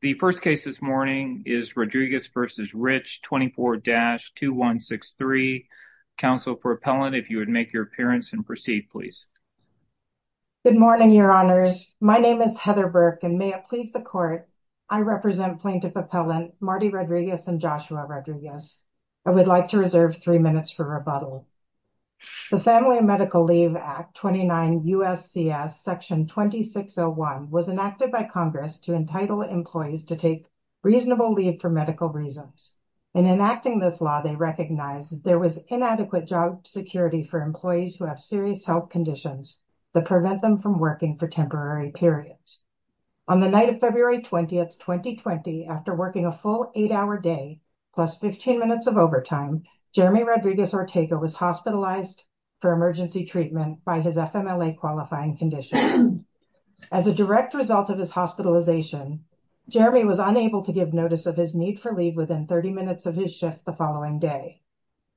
The first case this morning is Rodriguez v. Rich 24-2163. Counsel for Appellant, if you would make your appearance and proceed, please. Good morning, Your Honors. My name is Heather Burke, and may it please the Court, I represent Plaintiff Appellant Marty Rodriguez and Joshua Rodriguez. I would like to reserve three minutes for rebuttal. The Family and Medical Leave Act 29 U.S.C.S. Section 2601 was enacted by Congress to entitle employees to take reasonable leave for medical reasons. In enacting this law, they recognized there was inadequate job security for employees who have serious health conditions that prevent them from working for temporary periods. On the night of February 20th, 2020, after working a full eight-hour day plus 15 minutes of overtime, Jeremy Rodriguez Ortega was hospitalized for emergency treatment by his FMLA qualifying condition. As a direct result of his hospitalization, Jeremy was unable to give notice of his need for leave within 30 minutes of his shift the following day.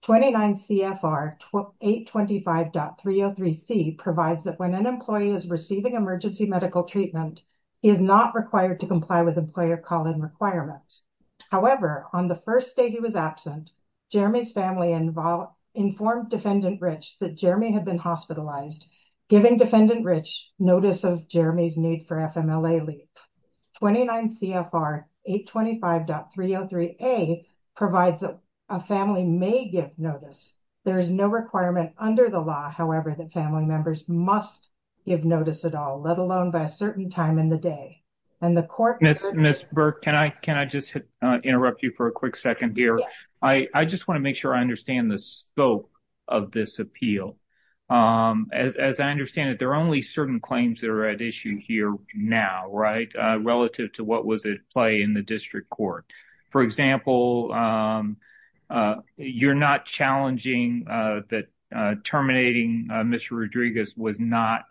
29 CFR 825.303C provides that when an employee is receiving emergency medical treatment, he is not required to comply with employer call-in requirements. However, on the first day he was absent, Jeremy's family informed Defendant Rich that Jeremy had been hospitalized, giving Defendant Rich notice of Jeremy's need for FMLA leave. 29 CFR 825.303A provides that a family may give notice. There is no requirement under the law, however, that family members must give notice at all, let alone by a certain time in the day. And the court Ms. Burke, can I just interrupt you for a quick second here? I just want to make sure I understand the scope of this appeal. As I understand it, there are only certain claims that are at issue here now, right, relative to what was at play in the district court. For example, you're not challenging that terminating Mr. Rodriguez was not,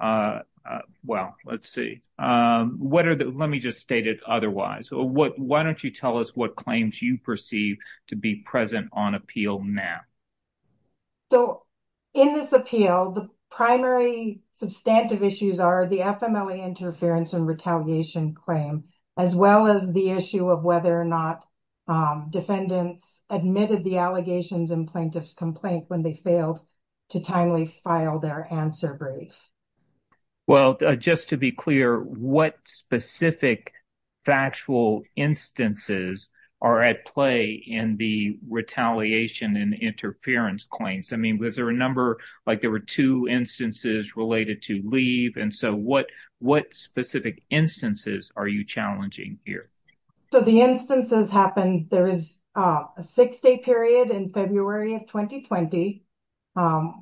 well, let's see, what are the, let me just state it otherwise. Why don't you tell us what claims you perceive to be present on appeal now? So, in this appeal, the primary substantive issues are the FMLA interference and retaliation claim, as well as the issue of whether or not defendants admitted the allegations in plaintiff's complaint when they failed to timely file their answer brief. Well, just to be clear, what specific factual instances are at play in the retaliation and interference claims? I mean, was there a number, like there were two instances related to leave, and so what specific instances are you challenging here? So, the instances happened, there is a six-day period in February of 2020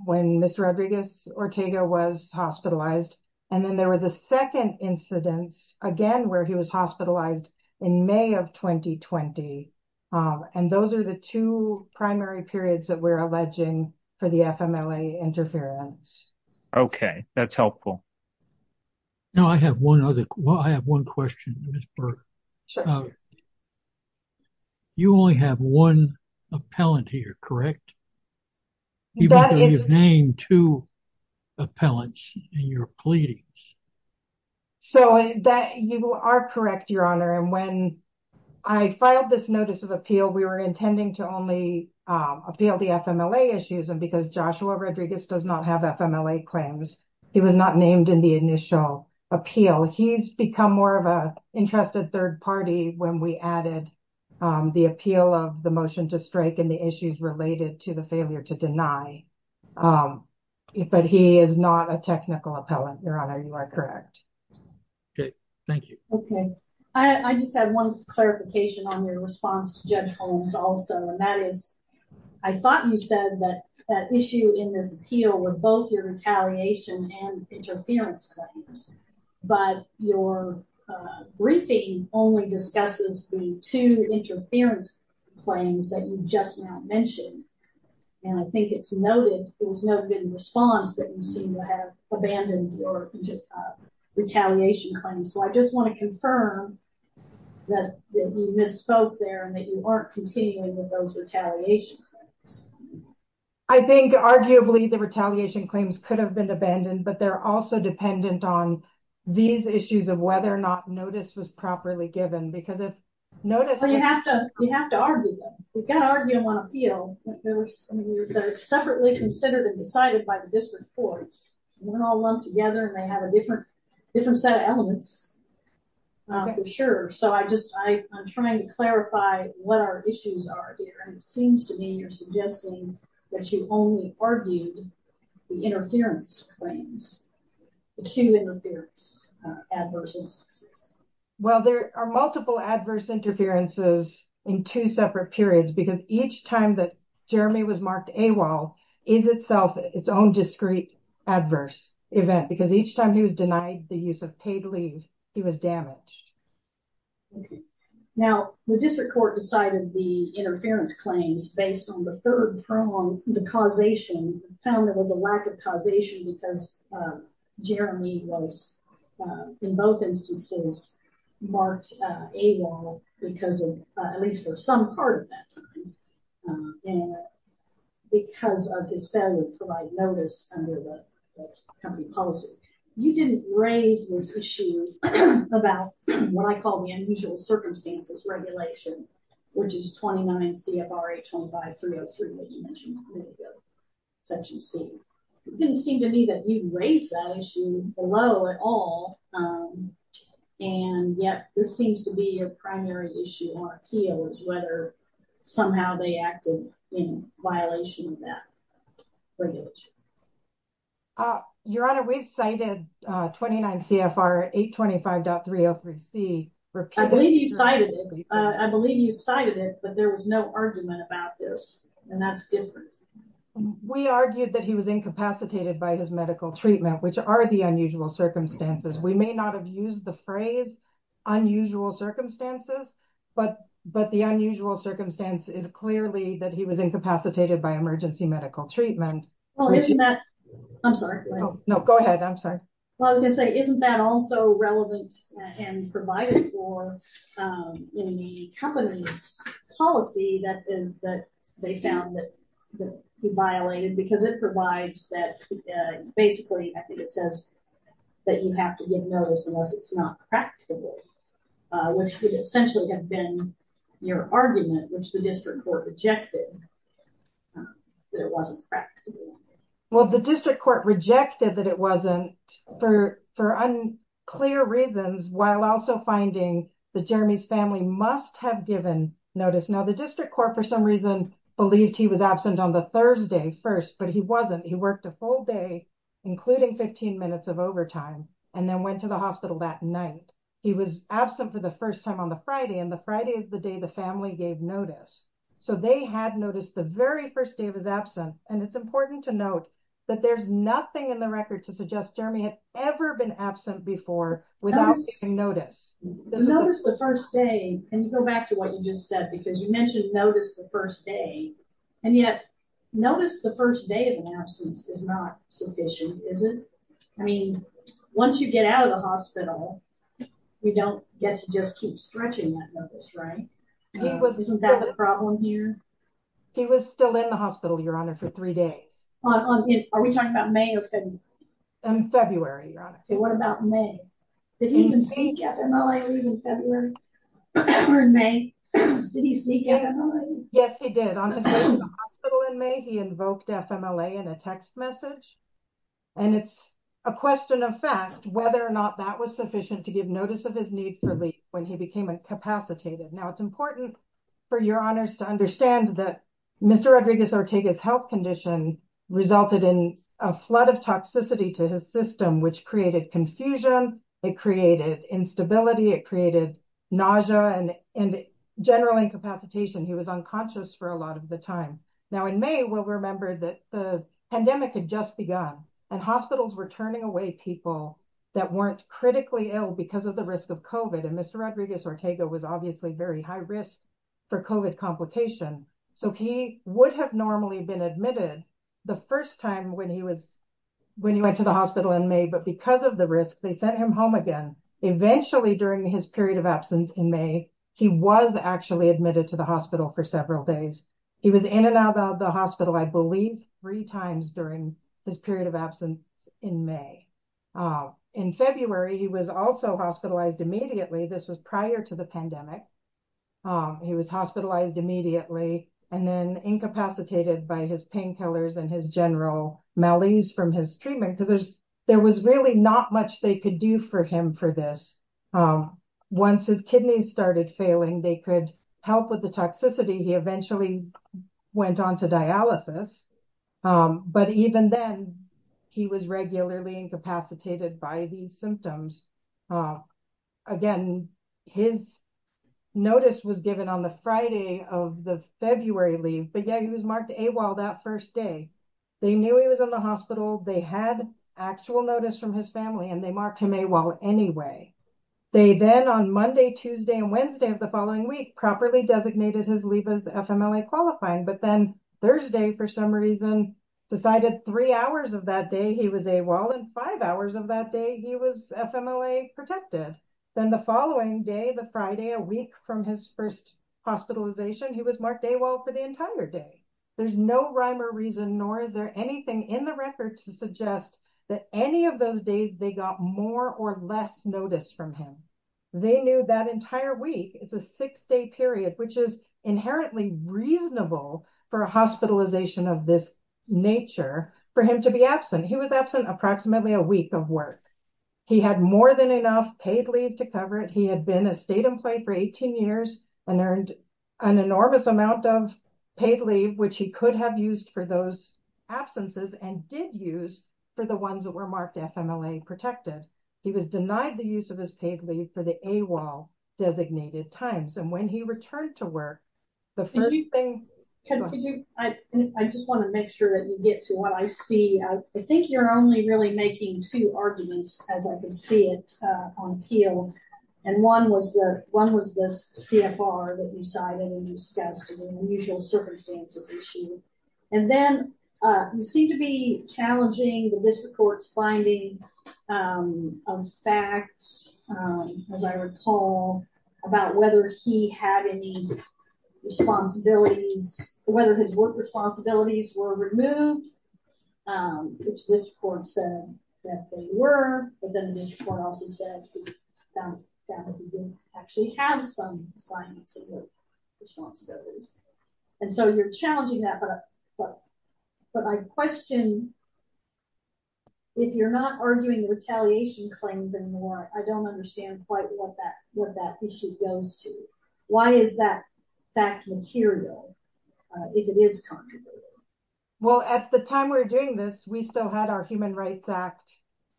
when Mr. Rodriguez Ortega was hospitalized, and then there was a second incidence, again, where he was hospitalized in May of 2020, and those are the two primary periods that we're alleging for the FMLA interference. Okay, that's helpful. Now, I have one other, well, I have one question, Ms. Burke. Sure. You only have one appellant here, correct? Even though you've named two appellants in your pleadings. So, you are correct, Your Honor, and when I filed this notice of appeal, we were intending to only appeal the FMLA issues, and because Joshua Rodriguez does not have FMLA claims, he was not named in the initial appeal. He's become more of an interested third party when we added the appeal of the motion to strike and the issues related to the failure to deny, but he is not a technical appellant, Your Honor. You are correct. Okay, thank you. Okay, I just have one clarification on your response to Judge Holmes also, and that is, I thought you said that that issue in this appeal were both your retaliation and interference claims, but your briefing only discusses the two interference claims that you just now mentioned, and I think it's noted, it was noted in response that you seem to have abandoned your retaliation claims. So, I just want to confirm that you misspoke there and that you aren't continuing with those retaliation claims. I think, arguably, the retaliation claims could have been abandoned, but they're also dependent on these issues of whether or not notice was properly given, because if notice... Well, you have to argue them. You've got to argue them on appeal. They're separately considered and decided by the district court. They're all lumped together and they have a different set of elements for sure. So, I just, I'm trying to clarify what our issues are here, and it seems to me you're suggesting that you only argued the interference claims, the two interference adverse instances. Well, there are multiple adverse interferences in two separate periods, because each time that Jeremy was marked AWOL is itself its own discrete adverse event, because each time he was denied the use of paid leave, he was damaged. Okay. Now, the district court decided the interference claims based on the third prong, the causation found there was a lack of causation because Jeremy was, in both instances, marked AWOL because of, at least for some part of that time, and because of his failure to provide notice under the company policy. You didn't raise this issue about what I call the unusual circumstances regulation, which is 29 CFR 825.303 that you mentioned a little bit ago, Section C. It didn't seem to me that you raised that issue below at all. And yet, this seems to be your primary issue on appeal is whether somehow they acted in violation of that regulation. Your Honor, we've cited 29 CFR 825.303 C. I believe you cited it, but there was no argument about this, and that's different. We argued that he was incapacitated by his medical treatment, which are the unusual circumstances. We may not have used the phrase unusual circumstances, but the unusual circumstance is clearly that he was incapacitated by emergency medical treatment. Well, isn't that... I'm sorry. No, go ahead. I'm sorry. Well, I was going to say, isn't that also relevant and provided for in the company's policy that they found that he violated? Because it provides that, basically, I think it says that you have to give notice unless it's not practical, which would essentially have been your argument, which the district court rejected, that it wasn't practical. Well, the district court rejected that it wasn't for unclear reasons, while also finding that Jeremy's family must have given notice. Now, the district court, for some reason, believed he was absent on the Thursday first, but he wasn't. He worked a full day, including 15 minutes of overtime, and then went to the hospital that night. He was absent for the first time on the Friday, and the Friday is the day the family gave notice. So, they had noticed the very first day of his absence, and it's important to note that there's nothing in the record to suggest Jeremy had ever been absent before without taking notice. Notice the first day, and you go back to what you just said, because you mentioned notice the first day, and yet notice the first day of an absence is not sufficient, is it? I mean, once you get out of the hospital, we don't get to just keep stretching that notice, right? Isn't that the problem here? He was still in the hospital, Your Honor, for three days. Are we talking about May or February? February, Your Honor. What about May? Did he even seek FMLA in February or in May? Did he seek FMLA? Yes, he did. On his way to the hospital in May, he invoked FMLA in a text message, and it's a question of fact whether or not that was sufficient to give notice of his need for leave when he became incapacitated. Now, it's important for Your Honors to understand that Mr. Rodriguez-Ortega's health condition resulted in a flood of toxicity to his system, which created confusion. It created instability. It created nausea and general incapacitation. He was unconscious for a lot of the time. Now, in May, we'll remember that the pandemic had just begun, and hospitals were turning away people that weren't critically ill because of the risk of COVID. Mr. Rodriguez-Ortega was obviously very high risk for COVID complication, so he would have normally been admitted the first time when he went to the hospital in May, but because of the risk, they sent him home again. Eventually, during his period of absence in May, he was actually admitted to the hospital for several days. He was in and out of the hospital, I believe, three times during his period of absence in May. In February, he was also hospitalized immediately. This was prior to the pandemic. He was hospitalized immediately and then incapacitated by his painkillers and his general malaise from his treatment because there was really not much they could do for him for this. Once his kidneys started failing, they could help with the toxicity. He eventually went on to dialysis, but even then, he was regularly incapacitated by these symptoms. Again, his notice was given on the Friday of the February leave, but yeah, he was marked AWOL that first day. They knew he was in the hospital, they had actual notice from his family, and they marked him AWOL anyway. They then, on Monday, Tuesday, and Wednesday of the following week, properly designated his leave as FMLA qualifying, but then Thursday, for some reason, decided three hours of that day he was AWOL and five hours of that day he was FMLA protected. Then, the following day, the Friday, a week from his first hospitalization, he was marked AWOL for the entire day. There's no rhyme or reason, nor is there anything in the record to suggest that any of those days they got more or less notice from him. They knew that entire week is a six-day period, which is inherently reasonable for a hospitalization of this nature for him to be absent. He was absent approximately a week of work. He had more than enough paid leave to cover it. He had been a state employee for 18 years and earned an enormous amount of paid leave, which he could have used for those absences and did use for the ones that were marked FMLA protected. He was denied the use of his paid leave for the AWOL-designated times, and when he returned to work, the first thing... I just want to make sure that you get to what I see. I think you're only really making two arguments, as I can see it on peel, and one was the CFR that you cited and discussed in the unusual circumstances issue. And then you seem to be challenging the district court's finding of facts, as I recall, about whether he had any responsibilities, whether his work responsibilities were removed, which this court said that they were, but then the district court also said that he didn't actually have some assignments of work responsibilities. And so you're challenging that, but I question, if you're not arguing the retaliation claims anymore, I don't understand quite what that what that issue goes to. Why is that fact material, if it is contrary? Well, at the time we're doing this, we still had our Human Rights Act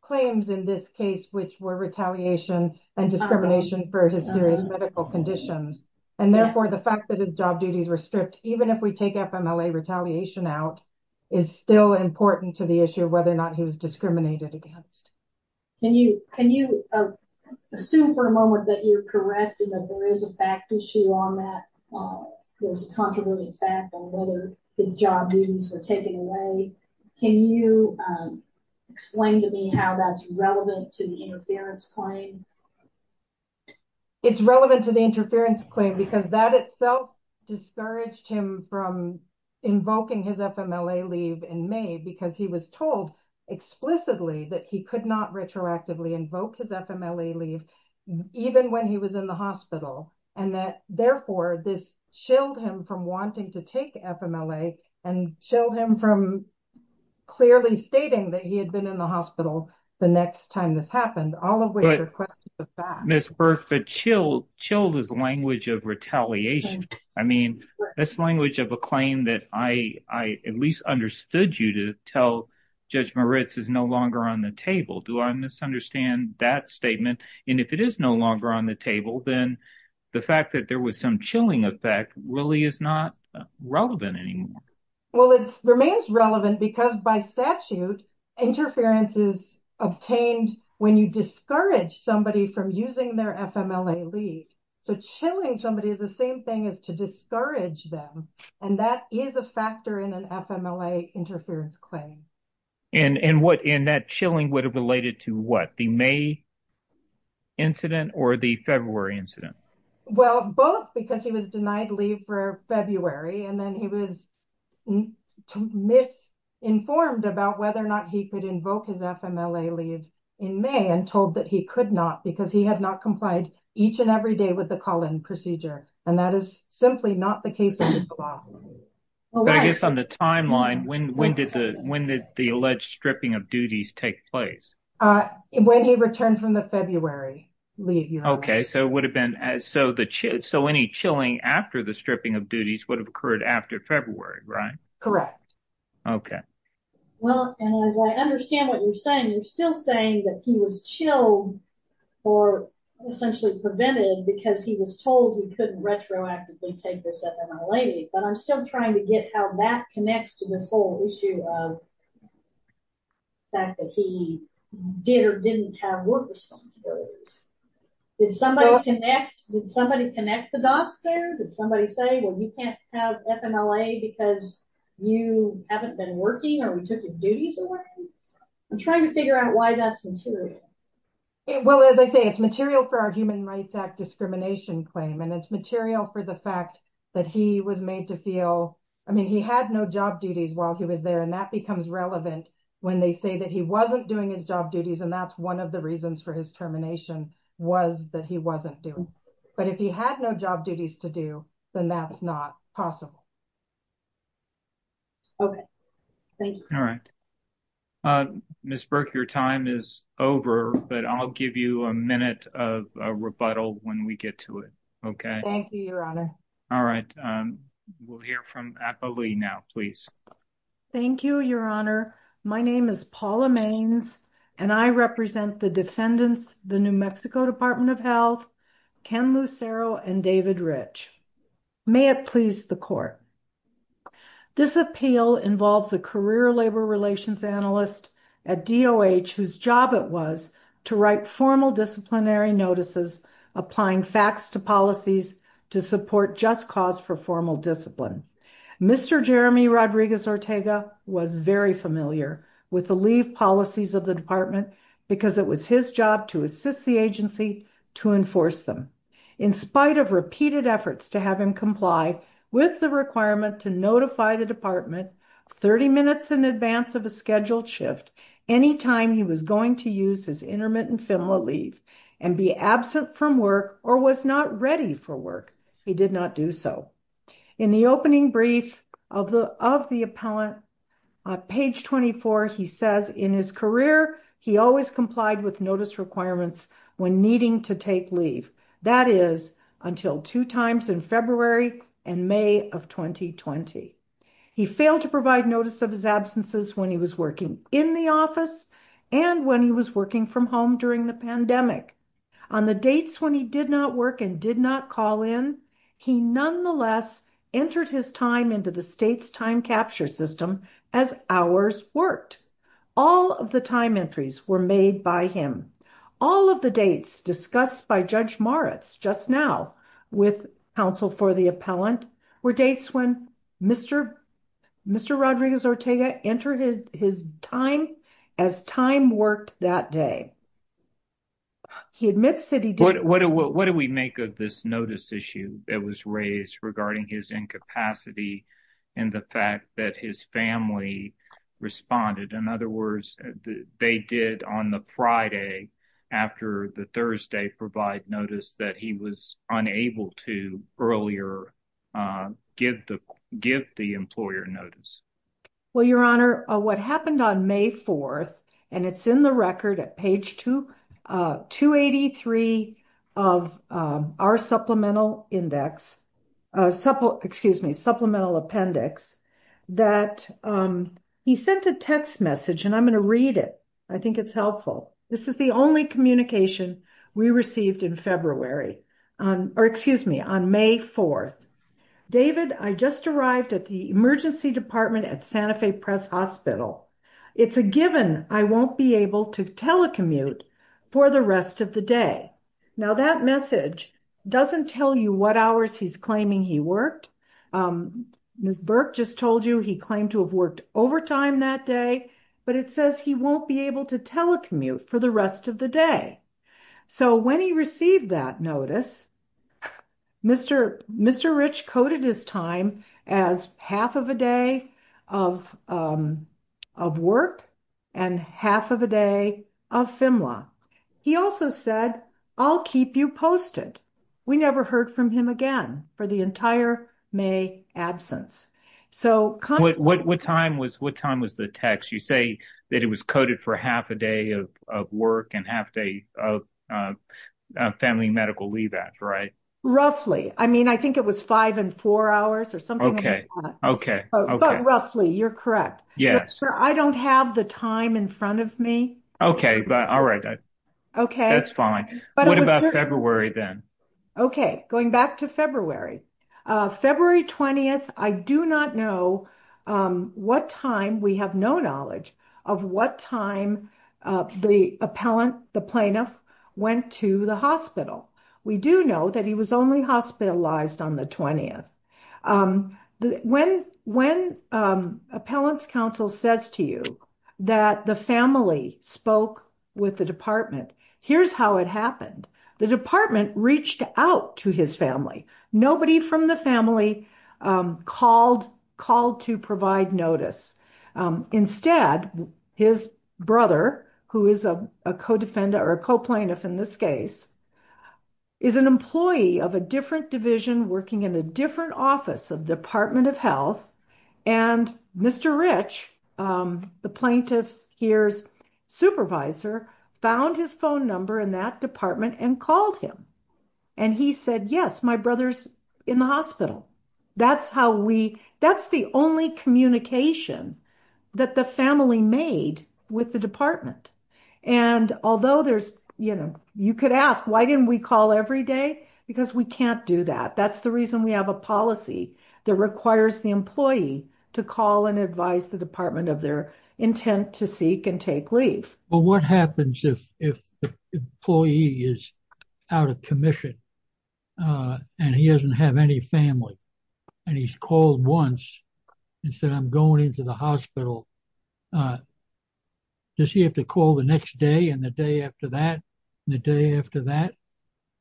claims in this case, which were retaliation and discrimination for his serious medical conditions. And therefore, the fact that his job duties were stripped, even if we take FMLA retaliation out, is still important to the issue of whether or not he was discriminated against. Can you assume for a moment that you're correct and that there is a fact issue on that? There was a controversial fact on whether his job duties were taken away. Can you explain to me how that's relevant to the interference claim? It's relevant to the interference claim because that itself discouraged him from invoking his FMLA leave in May because he was told explicitly that he could not retroactively invoke his FMLA leave, even when he was in the hospital. And that, therefore, this chilled him from wanting to take FMLA and chilled him from clearly stating that he had been in the hospital the next time this happened. All of which are questions of fact. Ms. Burke, but chilled is a language of retaliation. I mean, that's the language of a claim that I at least understood you to tell Judge Moritz is no longer on the table. Do I misunderstand that statement? And if it is no longer on the table, then the fact that there was some chilling effect really is not relevant anymore. Well, it remains relevant because by statute, interference is obtained when you discourage somebody from using their FMLA leave. So chilling somebody is the same thing as to discourage them. And that is a factor in an FMLA interference claim. And that chilling would have related to what? The May incident or the February incident? Well, both because he was denied leave for February and then he was misinformed about whether or not he could invoke his FMLA leave in May and told that he could not because he had not complied each and every day with the call-in procedure. And that is simply not the case. I guess on the timeline, when did the when did the alleged stripping of duties take place? When he returned from the February leave. OK, so it would have been as so the so any chilling after the stripping of duties would have occurred after February, right? Correct. OK, well, as I understand what you're saying, you're still saying that he was chilled or essentially prevented because he was told he couldn't retroactively take this FMLA, but I'm still trying to get how that connects to this whole issue of the fact that he did or didn't have work responsibilities. Did somebody connect, did somebody connect the dots there? Did somebody say, well, you can't have FMLA because you haven't been working or we took your duties away? I'm trying to figure out why that's material. Well, as I say, it's material for our Human Rights Act discrimination claim and it's material for the fact that he was made to feel I mean, he had no job duties while he was there, and that becomes relevant when they say that he wasn't doing his job duties. And that's one of the reasons for his termination was that he wasn't doing. But if he had no job duties to do, then that's not possible. OK, thank you. All right. Ms. Burke, your time is over, but I'll give you a minute of a rebuttal when we get to it. OK. Thank you, Your Honor. All right. We'll hear from Appleby now, please. Thank you, Your Honor. My name is Paula Mains and I represent the defendants, the New Mexico Department of Health, Ken Lucero and David Rich. May it please the court. This appeal involves a career labor relations analyst at DOH whose job it was to write formal disciplinary notices, applying facts to policies to support just cause for formal discipline. Mr. Jeremy Rodriguez Ortega was very familiar with the leave policies of the department because it was his job to assist the agency to enforce them. In spite of repeated efforts to have him comply with the requirement to notify the department 30 minutes in advance of a scheduled shift, any time he was going to use his intermittent leave and be absent from work or was not ready for work, he did not do so. In the opening brief of the of the appellant, page 24, he says in his career he always complied with notice requirements when needing to take leave. That is until two times in February and May of 2020. He failed to provide notice of his absences when he was working in the office and when he was working from home during the pandemic. On the dates when he did not work and did not call in, he nonetheless entered his time into the state's time capture system as hours worked. All of the time entries were made by him. All of the dates discussed by Judge Moritz just now with counsel for the appellant were dates when Mr. Mr. Rodriguez Ortega entered his time as time worked that day. He admits that he did. What do we make of this notice issue that was raised regarding his incapacity and the fact that his family responded? In other words, they did on the Friday after the Thursday provide notice that he was unable to earlier give the employer notice. Well, Your Honor, what happened on May 4th, and it's in the record at page 283 of our supplemental index, excuse me, supplemental appendix, that he sent a text message and I'm going to read it. I think it's helpful. This is the only communication we received in February, or excuse me, on May 4th. David, I just arrived at the emergency department at Santa Fe Press Hospital. It's a given I won't be able to telecommute for the rest of the day. Now that message doesn't tell you what hours he's claiming he worked. Ms. Burke just told you he claimed to have worked overtime that day, but it says he won't be able to telecommute for the rest of the day. So when he received that notice, Mr. Rich coded his time as half of a day of work and half of a day of FEMLA. He also said, I'll keep you posted. We never heard from him again for the entire May absence. What time was the text? You say that it was coded for half a day of work and half day of family medical leave. That's right. Roughly. I mean, I think it was five and four hours or something. Okay. Okay. Okay. Roughly. You're correct. Yes. I don't have the time in front of me. Okay. All right. Okay. That's fine. What about February then? Okay. Going back to February. February 20th. I do not know what time. We have no knowledge of what time the appellant, the plaintiff went to the hospital. We do know that he was only hospitalized on the 20th. When appellant's counsel says to you that the family spoke with the department, here's how it happened. The department reached out to his family. Nobody from the family called to provide notice. Instead, his brother, who is a co-defendant or a co-plaintiff in this case, is an employee of a different division working in a different office of Department of Health. Mr. Rich, the plaintiff's here's supervisor, found his phone number in that department and called him. He said, yes, my brother's in the hospital. That's the only communication that the family made with the department. You could ask, why didn't we call every day? Because we can't do that. That's the reason we have a policy that requires the employee to call and advise the department of intent to seek and take leave. Well, what happens if the employee is out of commission and he doesn't have any family and he's called once and said, I'm going into the hospital. Does he have to call the next day and the day after that and the day after that?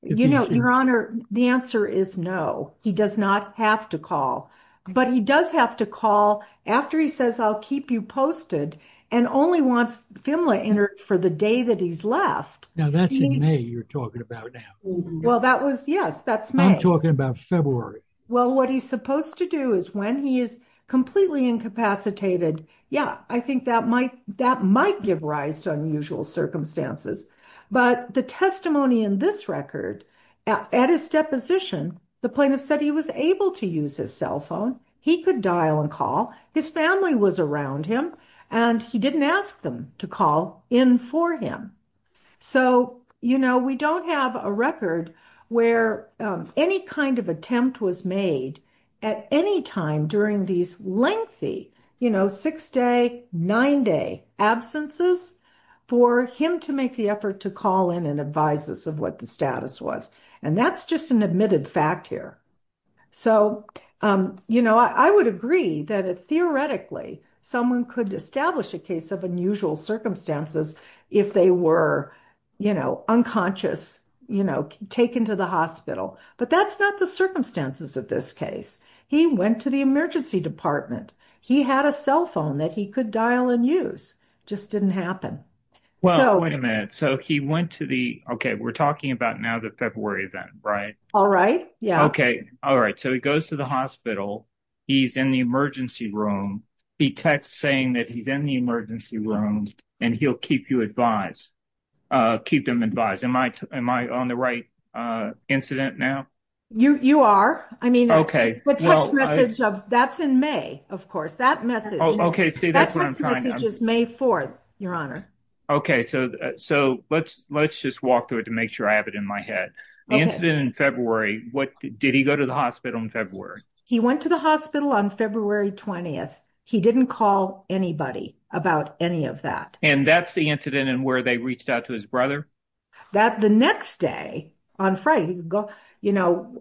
You know, your honor, the answer is no. He does not have to call, but he does have to call after he says, I'll keep you posted and only wants FMLA entered for the day that he's left. Now that's in May you're talking about now. Well, that was, yes, that's May. I'm talking about February. Well, what he's supposed to do is when he is completely incapacitated, yeah, I think that might, that might give rise to unusual circumstances, but the testimony in this record at his deposition, the plaintiff said he was able to use his cell phone. He could dial and call his family was around him and he didn't ask them to call in for him. So, you know, we don't have a record where any kind of attempt was made at any time during these lengthy, you know, six day, nine day absences for him to make the effort to call in and advise us of what the status was. And that's just an admitted fact here. So, you know, I would agree that theoretically, someone could establish a case of unusual circumstances if they were, you know, unconscious, you know, taken to the hospital, but that's not the circumstances of this case. He went to the emergency department. He had a cell phone that he could dial and use just didn't happen. Well, wait a minute. So he went to the, okay, we're talking about now the February event, right? All right. Yeah. Okay. All right. So he goes to the hospital. He's in the emergency room. He texts saying that he's in the emergency room and he'll keep you advised, keep them advised. Am I, am I on the right incident now? You are. I mean, okay. The text message of that's in May, of course, that message, that text message is May 4th, Your Honor. Okay. So, so let's, let's just walk through it to make sure I have it in my head. The incident in February, what, did he go to the hospital in February? He went to the hospital on February 20th. He didn't call anybody about any of that. And that's the incident and where they reached out to his brother? That the next day on Friday, you know,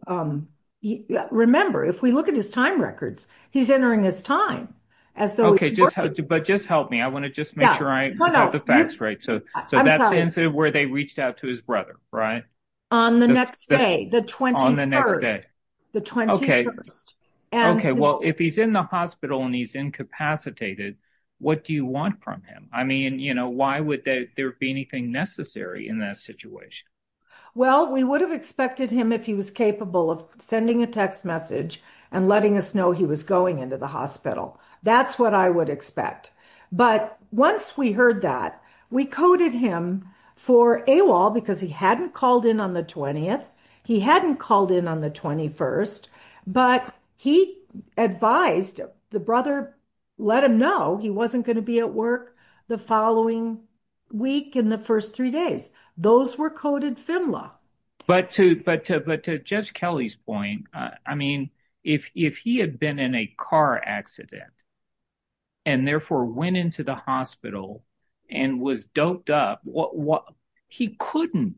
remember if we look at his time records, he's entering his time as though, but just help me. I want to just make sure I have the facts right. So that's the incident where they reached out to his brother, right? On the next day, the 21st, the 21st. Okay. Well, if he's in the hospital and he's incapacitated, what do you want from him? I mean, you know, why would there be anything necessary in that situation? Well, we would have expected him if he was capable of sending a text message and letting us know he was going into the hospital. That's what I would expect. But once we heard that we coded him for AWOL because he hadn't called in on the 20th. He hadn't called in on the 21st, but he advised the brother, let him know he wasn't going to be at work the following week. In the first three days, those were coded FMLA. But to, but to, Judge Kelly's point, I mean, if he had been in a car accident and therefore went into the hospital and was doped up, what he couldn't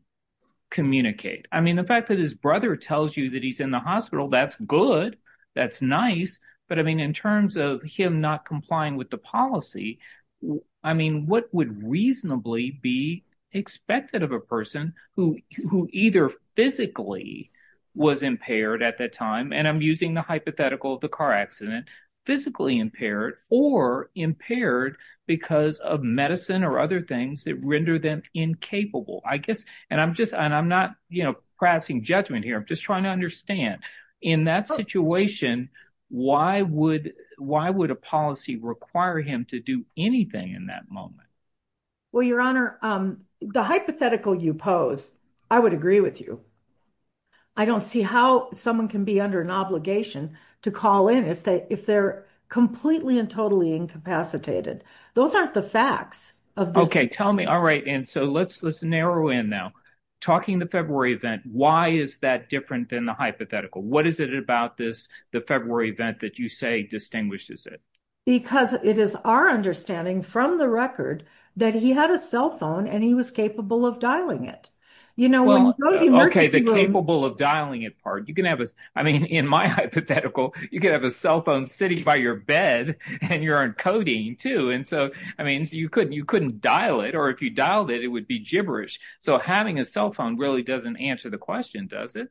communicate. I mean, the fact that his brother tells you that he's in the hospital, that's good. That's nice. But I mean, in terms of him not complying with the policy, I mean, what would reasonably be expected of a person who either physically was impaired at that time. And I'm using the hypothetical of the car accident, physically impaired or impaired because of medicine or other things that render them incapable, I guess. And I'm just, and I'm not, you know, passing judgment here. I'm just trying to understand in that situation, why would, why would a policy require him to do anything in that moment? Well, Your Honor, the hypothetical you pose, I would agree with you. I don't see how someone can be under an obligation to call in if they, if they're completely and totally incapacitated. Those aren't the facts. Okay, tell me. All right. And so let's, let's narrow in now, talking to February event, why is that different than the hypothetical? What is it about this, the February event that you say distinguishes it? Because it is our understanding from the record that he had a cell phone and he was capable of dialing it, you know. Okay, the capable of dialing it part, you can have a, I mean, in my hypothetical, you can have a cell phone sitting by your bed and you're encoding too. And so, I mean, you couldn't, you couldn't dial it, or if you dialed it, it would be gibberish. So having a cell phone really doesn't answer the question, does it?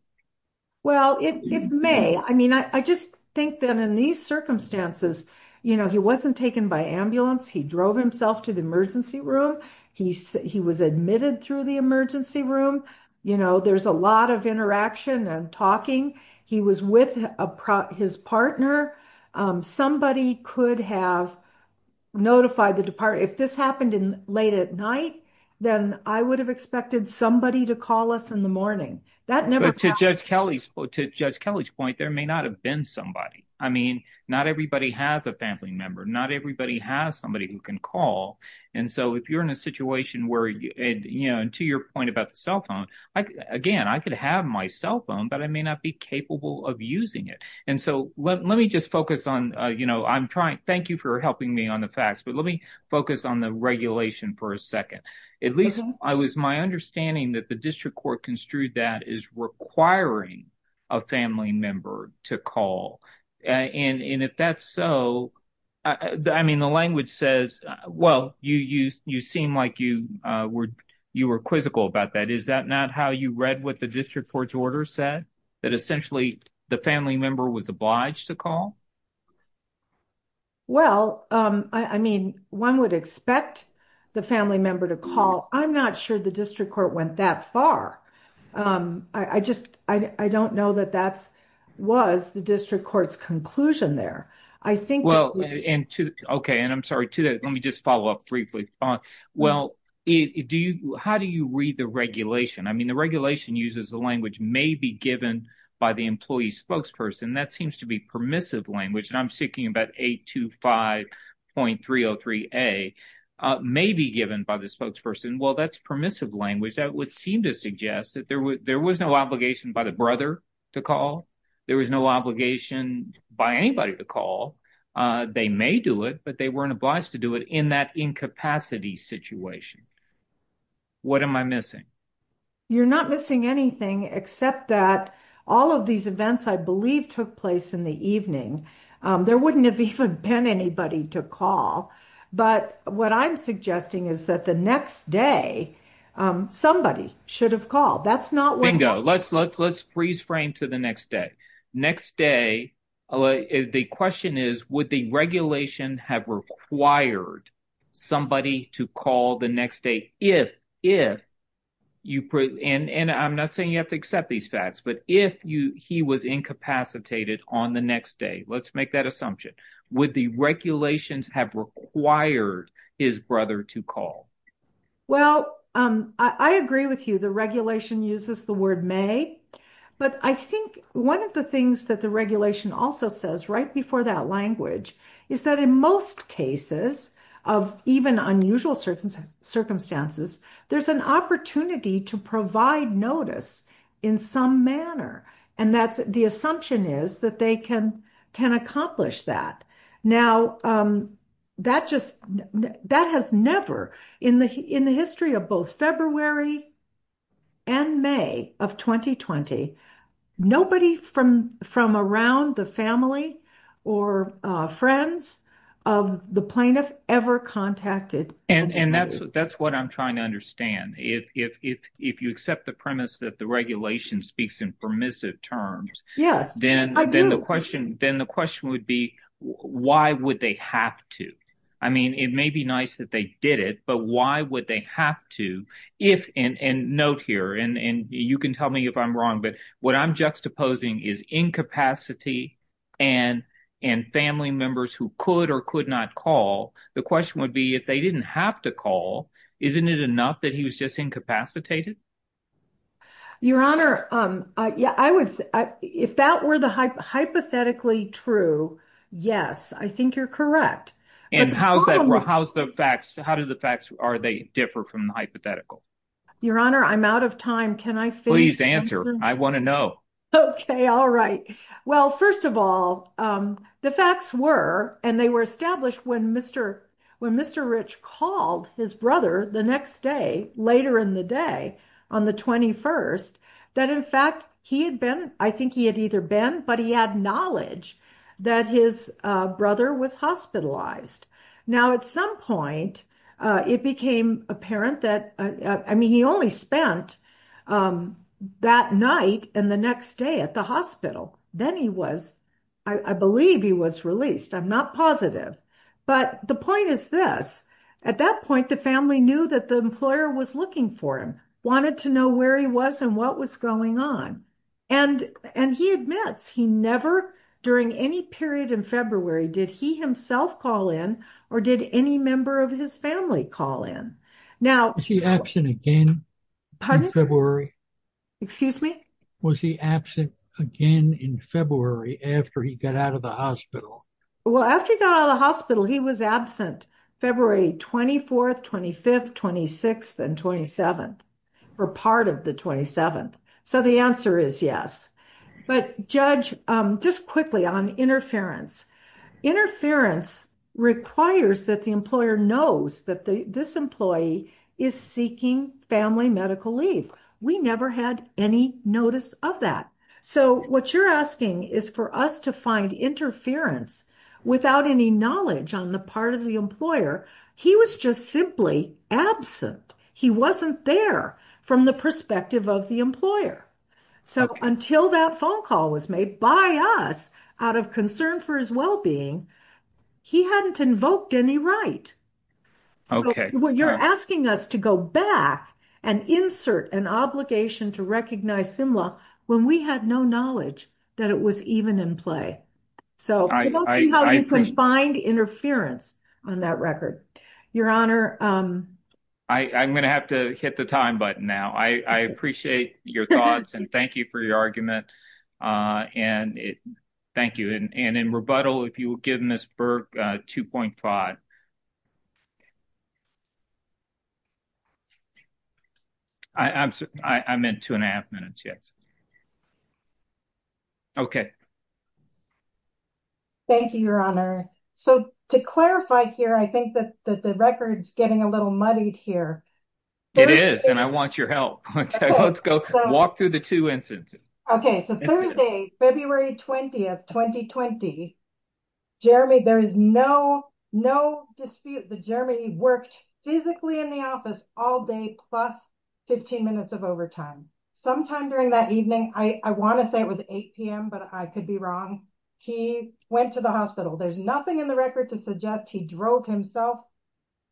Well, it may. I mean, I, I just think that in these circumstances, you know, he wasn't taken by ambulance. He drove himself to the emergency room. He said he was admitted through the emergency room. You know, there's a lot of interaction and talking. He was with his partner. Somebody could have notified the department. If this happened in late at night, then I would have expected somebody to call us in the morning. That never happened. But to Judge Kelly's, to Judge Kelly's point, there may not have been somebody. I mean, not everybody has a family member. Not everybody has somebody who can call. And so if you're in a situation where, you know, and to your point about the cell phone, again, I could have my cell phone, but I may not be capable of using it. And so let me just focus on, you know, I'm trying, thank you for helping me on the facts, but let me focus on the regulation for a second. At least I was, my understanding that the district court construed that as requiring a family member to call. And if that's so, I mean, the language says, well, you seem like you were quizzical about that. Is that not how you read what the district court's order said? That essentially the family member was obliged to call? Well, I mean, one would expect the family member to call. I'm not sure the district court went that far. I just, I don't know that that's, was the district court's conclusion there. I think- Well, and to, okay, and I'm sorry, to that, let me just follow up briefly. Well, do you, how do you read the regulation? I mean, the regulation uses the language may be given by the employee spokesperson. That seems to be permissive language. And I'm thinking about 825.303a may be given by the spokesperson. Well, that's permissive language. That would seem to suggest that there was no obligation by the brother to call. There was no obligation by anybody to call. They may do it, but they weren't obliged to do it in that incapacity situation. What am I missing? You're not missing anything except that all of these events I believe took place in the evening. There wouldn't have even been anybody to call. But what I'm suggesting is that the next day, somebody should have called. That's not what- Bingo. Let's freeze frame to the next day. Next day, the question is, would the regulation have required somebody to call the next day if you, and I'm not saying you have to accept these facts, but if he was incapacitated on the next day, let's make that assumption. Would the regulations have required his brother to call? Well, I agree with you. The regulation uses the word may, but I think one of the things that the regulation also says right before that language is that in most cases of even unusual circumstances, there's an opportunity to provide notice in some manner, and the assumption is that they can accomplish that. Now, that has never, in the history of both February and May of 2020, nobody from around the family or friends of the plaintiff ever contacted- And that's what I'm trying to understand. If you accept the premise that the regulation speaks in permissive terms- Yes, I do. Then the question would be, why would they have to? I mean, it may be nice that they did it, but why would they have to if, and note here, and you can tell me if I'm wrong, but what I'm juxtaposing is incapacity and family members who could or could not call. The question would be, if they didn't have to call, isn't it enough that he was just incapacitated? Your Honor, if that were the hypothetically true, yes, I think you're correct. How do the facts differ from the hypothetical? Your Honor, I'm out of time. Can I finish? Please answer. I want to know. Okay. All right. Well, first of all, the facts were, and they were established when Mr. Rich called his brother the next day, later in the day, on the 21st, that in fact, he had been, I think he had either been, but he had knowledge that his brother was hospitalized. Now, at some point, it became apparent that, I mean, he only spent that night and the next day at the hospital. Then he was, I believe he was released. I'm not positive. But the point is this, at that point, the family knew that the employer was looking for him, wanted to know where he was and what was going on. And he admits he never, during any period in February, did he himself call in or did any member of his family call in? Now- Was he absent again in February? Excuse me? Was he absent again in February after he got out of the hospital? Well, after he got out of the hospital, he was absent February 24th, 25th, 26th, and 27th, or part of the 27th. So the answer is yes. But Judge, just quickly on interference. Interference requires that the employer knows that this employee is seeking family medical leave. We never had any notice of that. So what you're asking is for us to find interference without any knowledge on the part of the employer. He was just simply absent. He wasn't there from the perspective of the employer. So until that phone call was made by us out of concern for his well-being, he hadn't invoked any right. So you're asking us to go back and insert an obligation to recognize FIMLA when we had no knowledge that it was even in play. So we don't see how you could find interference on that record. Your Honor- I'm going to have to hit the time button now. I appreciate your thoughts and thank you for your argument. And thank you. And in rebuttal, if you will give Ms. Burke 2.5. I'm in two and a half minutes. Yes. Okay. Thank you, Your Honor. So to clarify here, I think that the record's getting a little muddied here. It is and I want your help. Let's go walk through the two instances. Okay. So Thursday, February 20th, 2020. Jeremy, there is no dispute that Jeremy worked physically in the office all day plus 15 minutes of overtime. Sometime during that evening, I want to say it was 8 p.m., but I could be wrong. He went to the hospital. There's nothing in the record to suggest he drove himself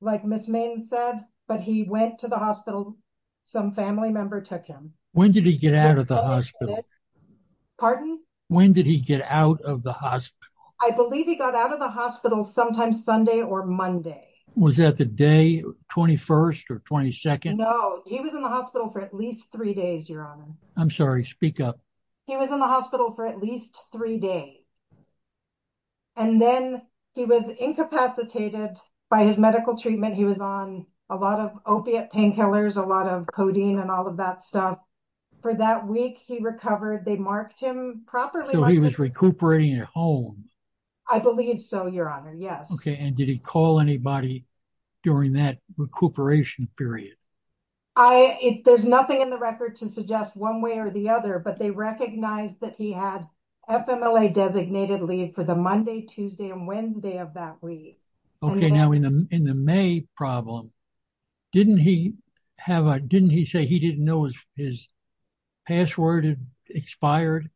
like Ms. Main said, but he went to the hospital. Some family member took him. When did he get out of the hospital? Pardon? When did he get out of the hospital? I believe he got out of the hospital sometimes Sunday or Monday. Was that the day 21st or 22nd? No, he was in the hospital for at least three days, Your Honor. I'm sorry. Speak up. He was in the hospital for at least three days. And then he was incapacitated by his medical treatment. He was on a lot of opiate painkillers, a lot of codeine and all of that stuff. For that week, he recovered. They marked him properly. So he was recuperating at home? I believe so, Your Honor. Yes. Okay. And did he call anybody during that recuperation period? There's nothing in the record to suggest one way or the other, but they recognized that he had FMLA designated leave for the Monday, Tuesday, and Wednesday of that week. Okay. Now in the May problem, didn't he have a, didn't he say he didn't know his password expired?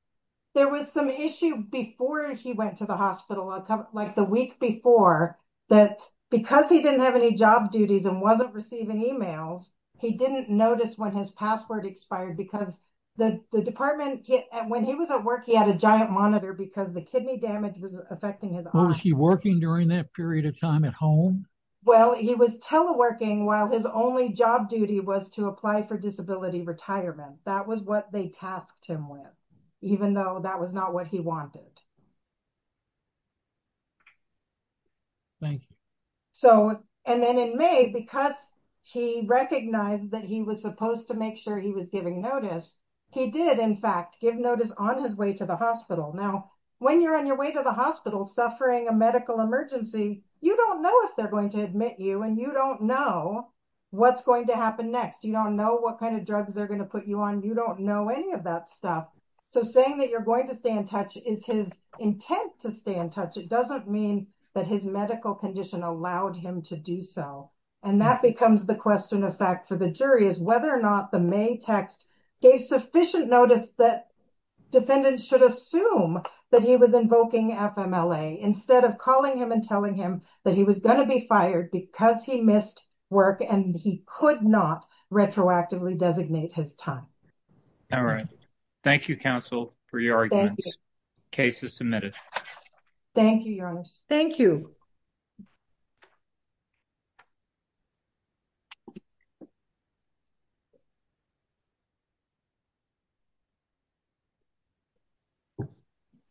There was some issue before he went to the hospital, like the week before, that because he didn't have any job duties and wasn't receiving emails, he didn't notice when his password expired because the department, when he was at work, he had a giant monitor because the kidney damage was affecting his eyes. Was he working during that period of time at home? Well, he was teleworking while his only job duty was to apply for disability retirement. That was what they tasked him with, even though that was not what he wanted. Thank you. So, and then in May, because he recognized that he was supposed to make sure he was giving notice, he did, in fact, give notice on his way to the hospital. Now, when you're on your way to the hospital suffering a medical emergency, you don't know if they're going to admit you and you don't know what's going to happen next. You don't know what kind of drugs they're going to put you on. You don't know any of that stuff. So, saying that you're going to stay in touch is his intent to stay in touch. It doesn't mean that his medical condition allowed him to do so. And that becomes the question of fact for the jury is whether or not the May text gave sufficient notice that defendants should assume that he was invoking FMLA instead of calling him and telling him that he was going to be fired because he missed work and he could not retroactively designate his time. All right. Thank you, counsel, for your arguments. The case is submitted. Thank you, Your Honor. Thank you.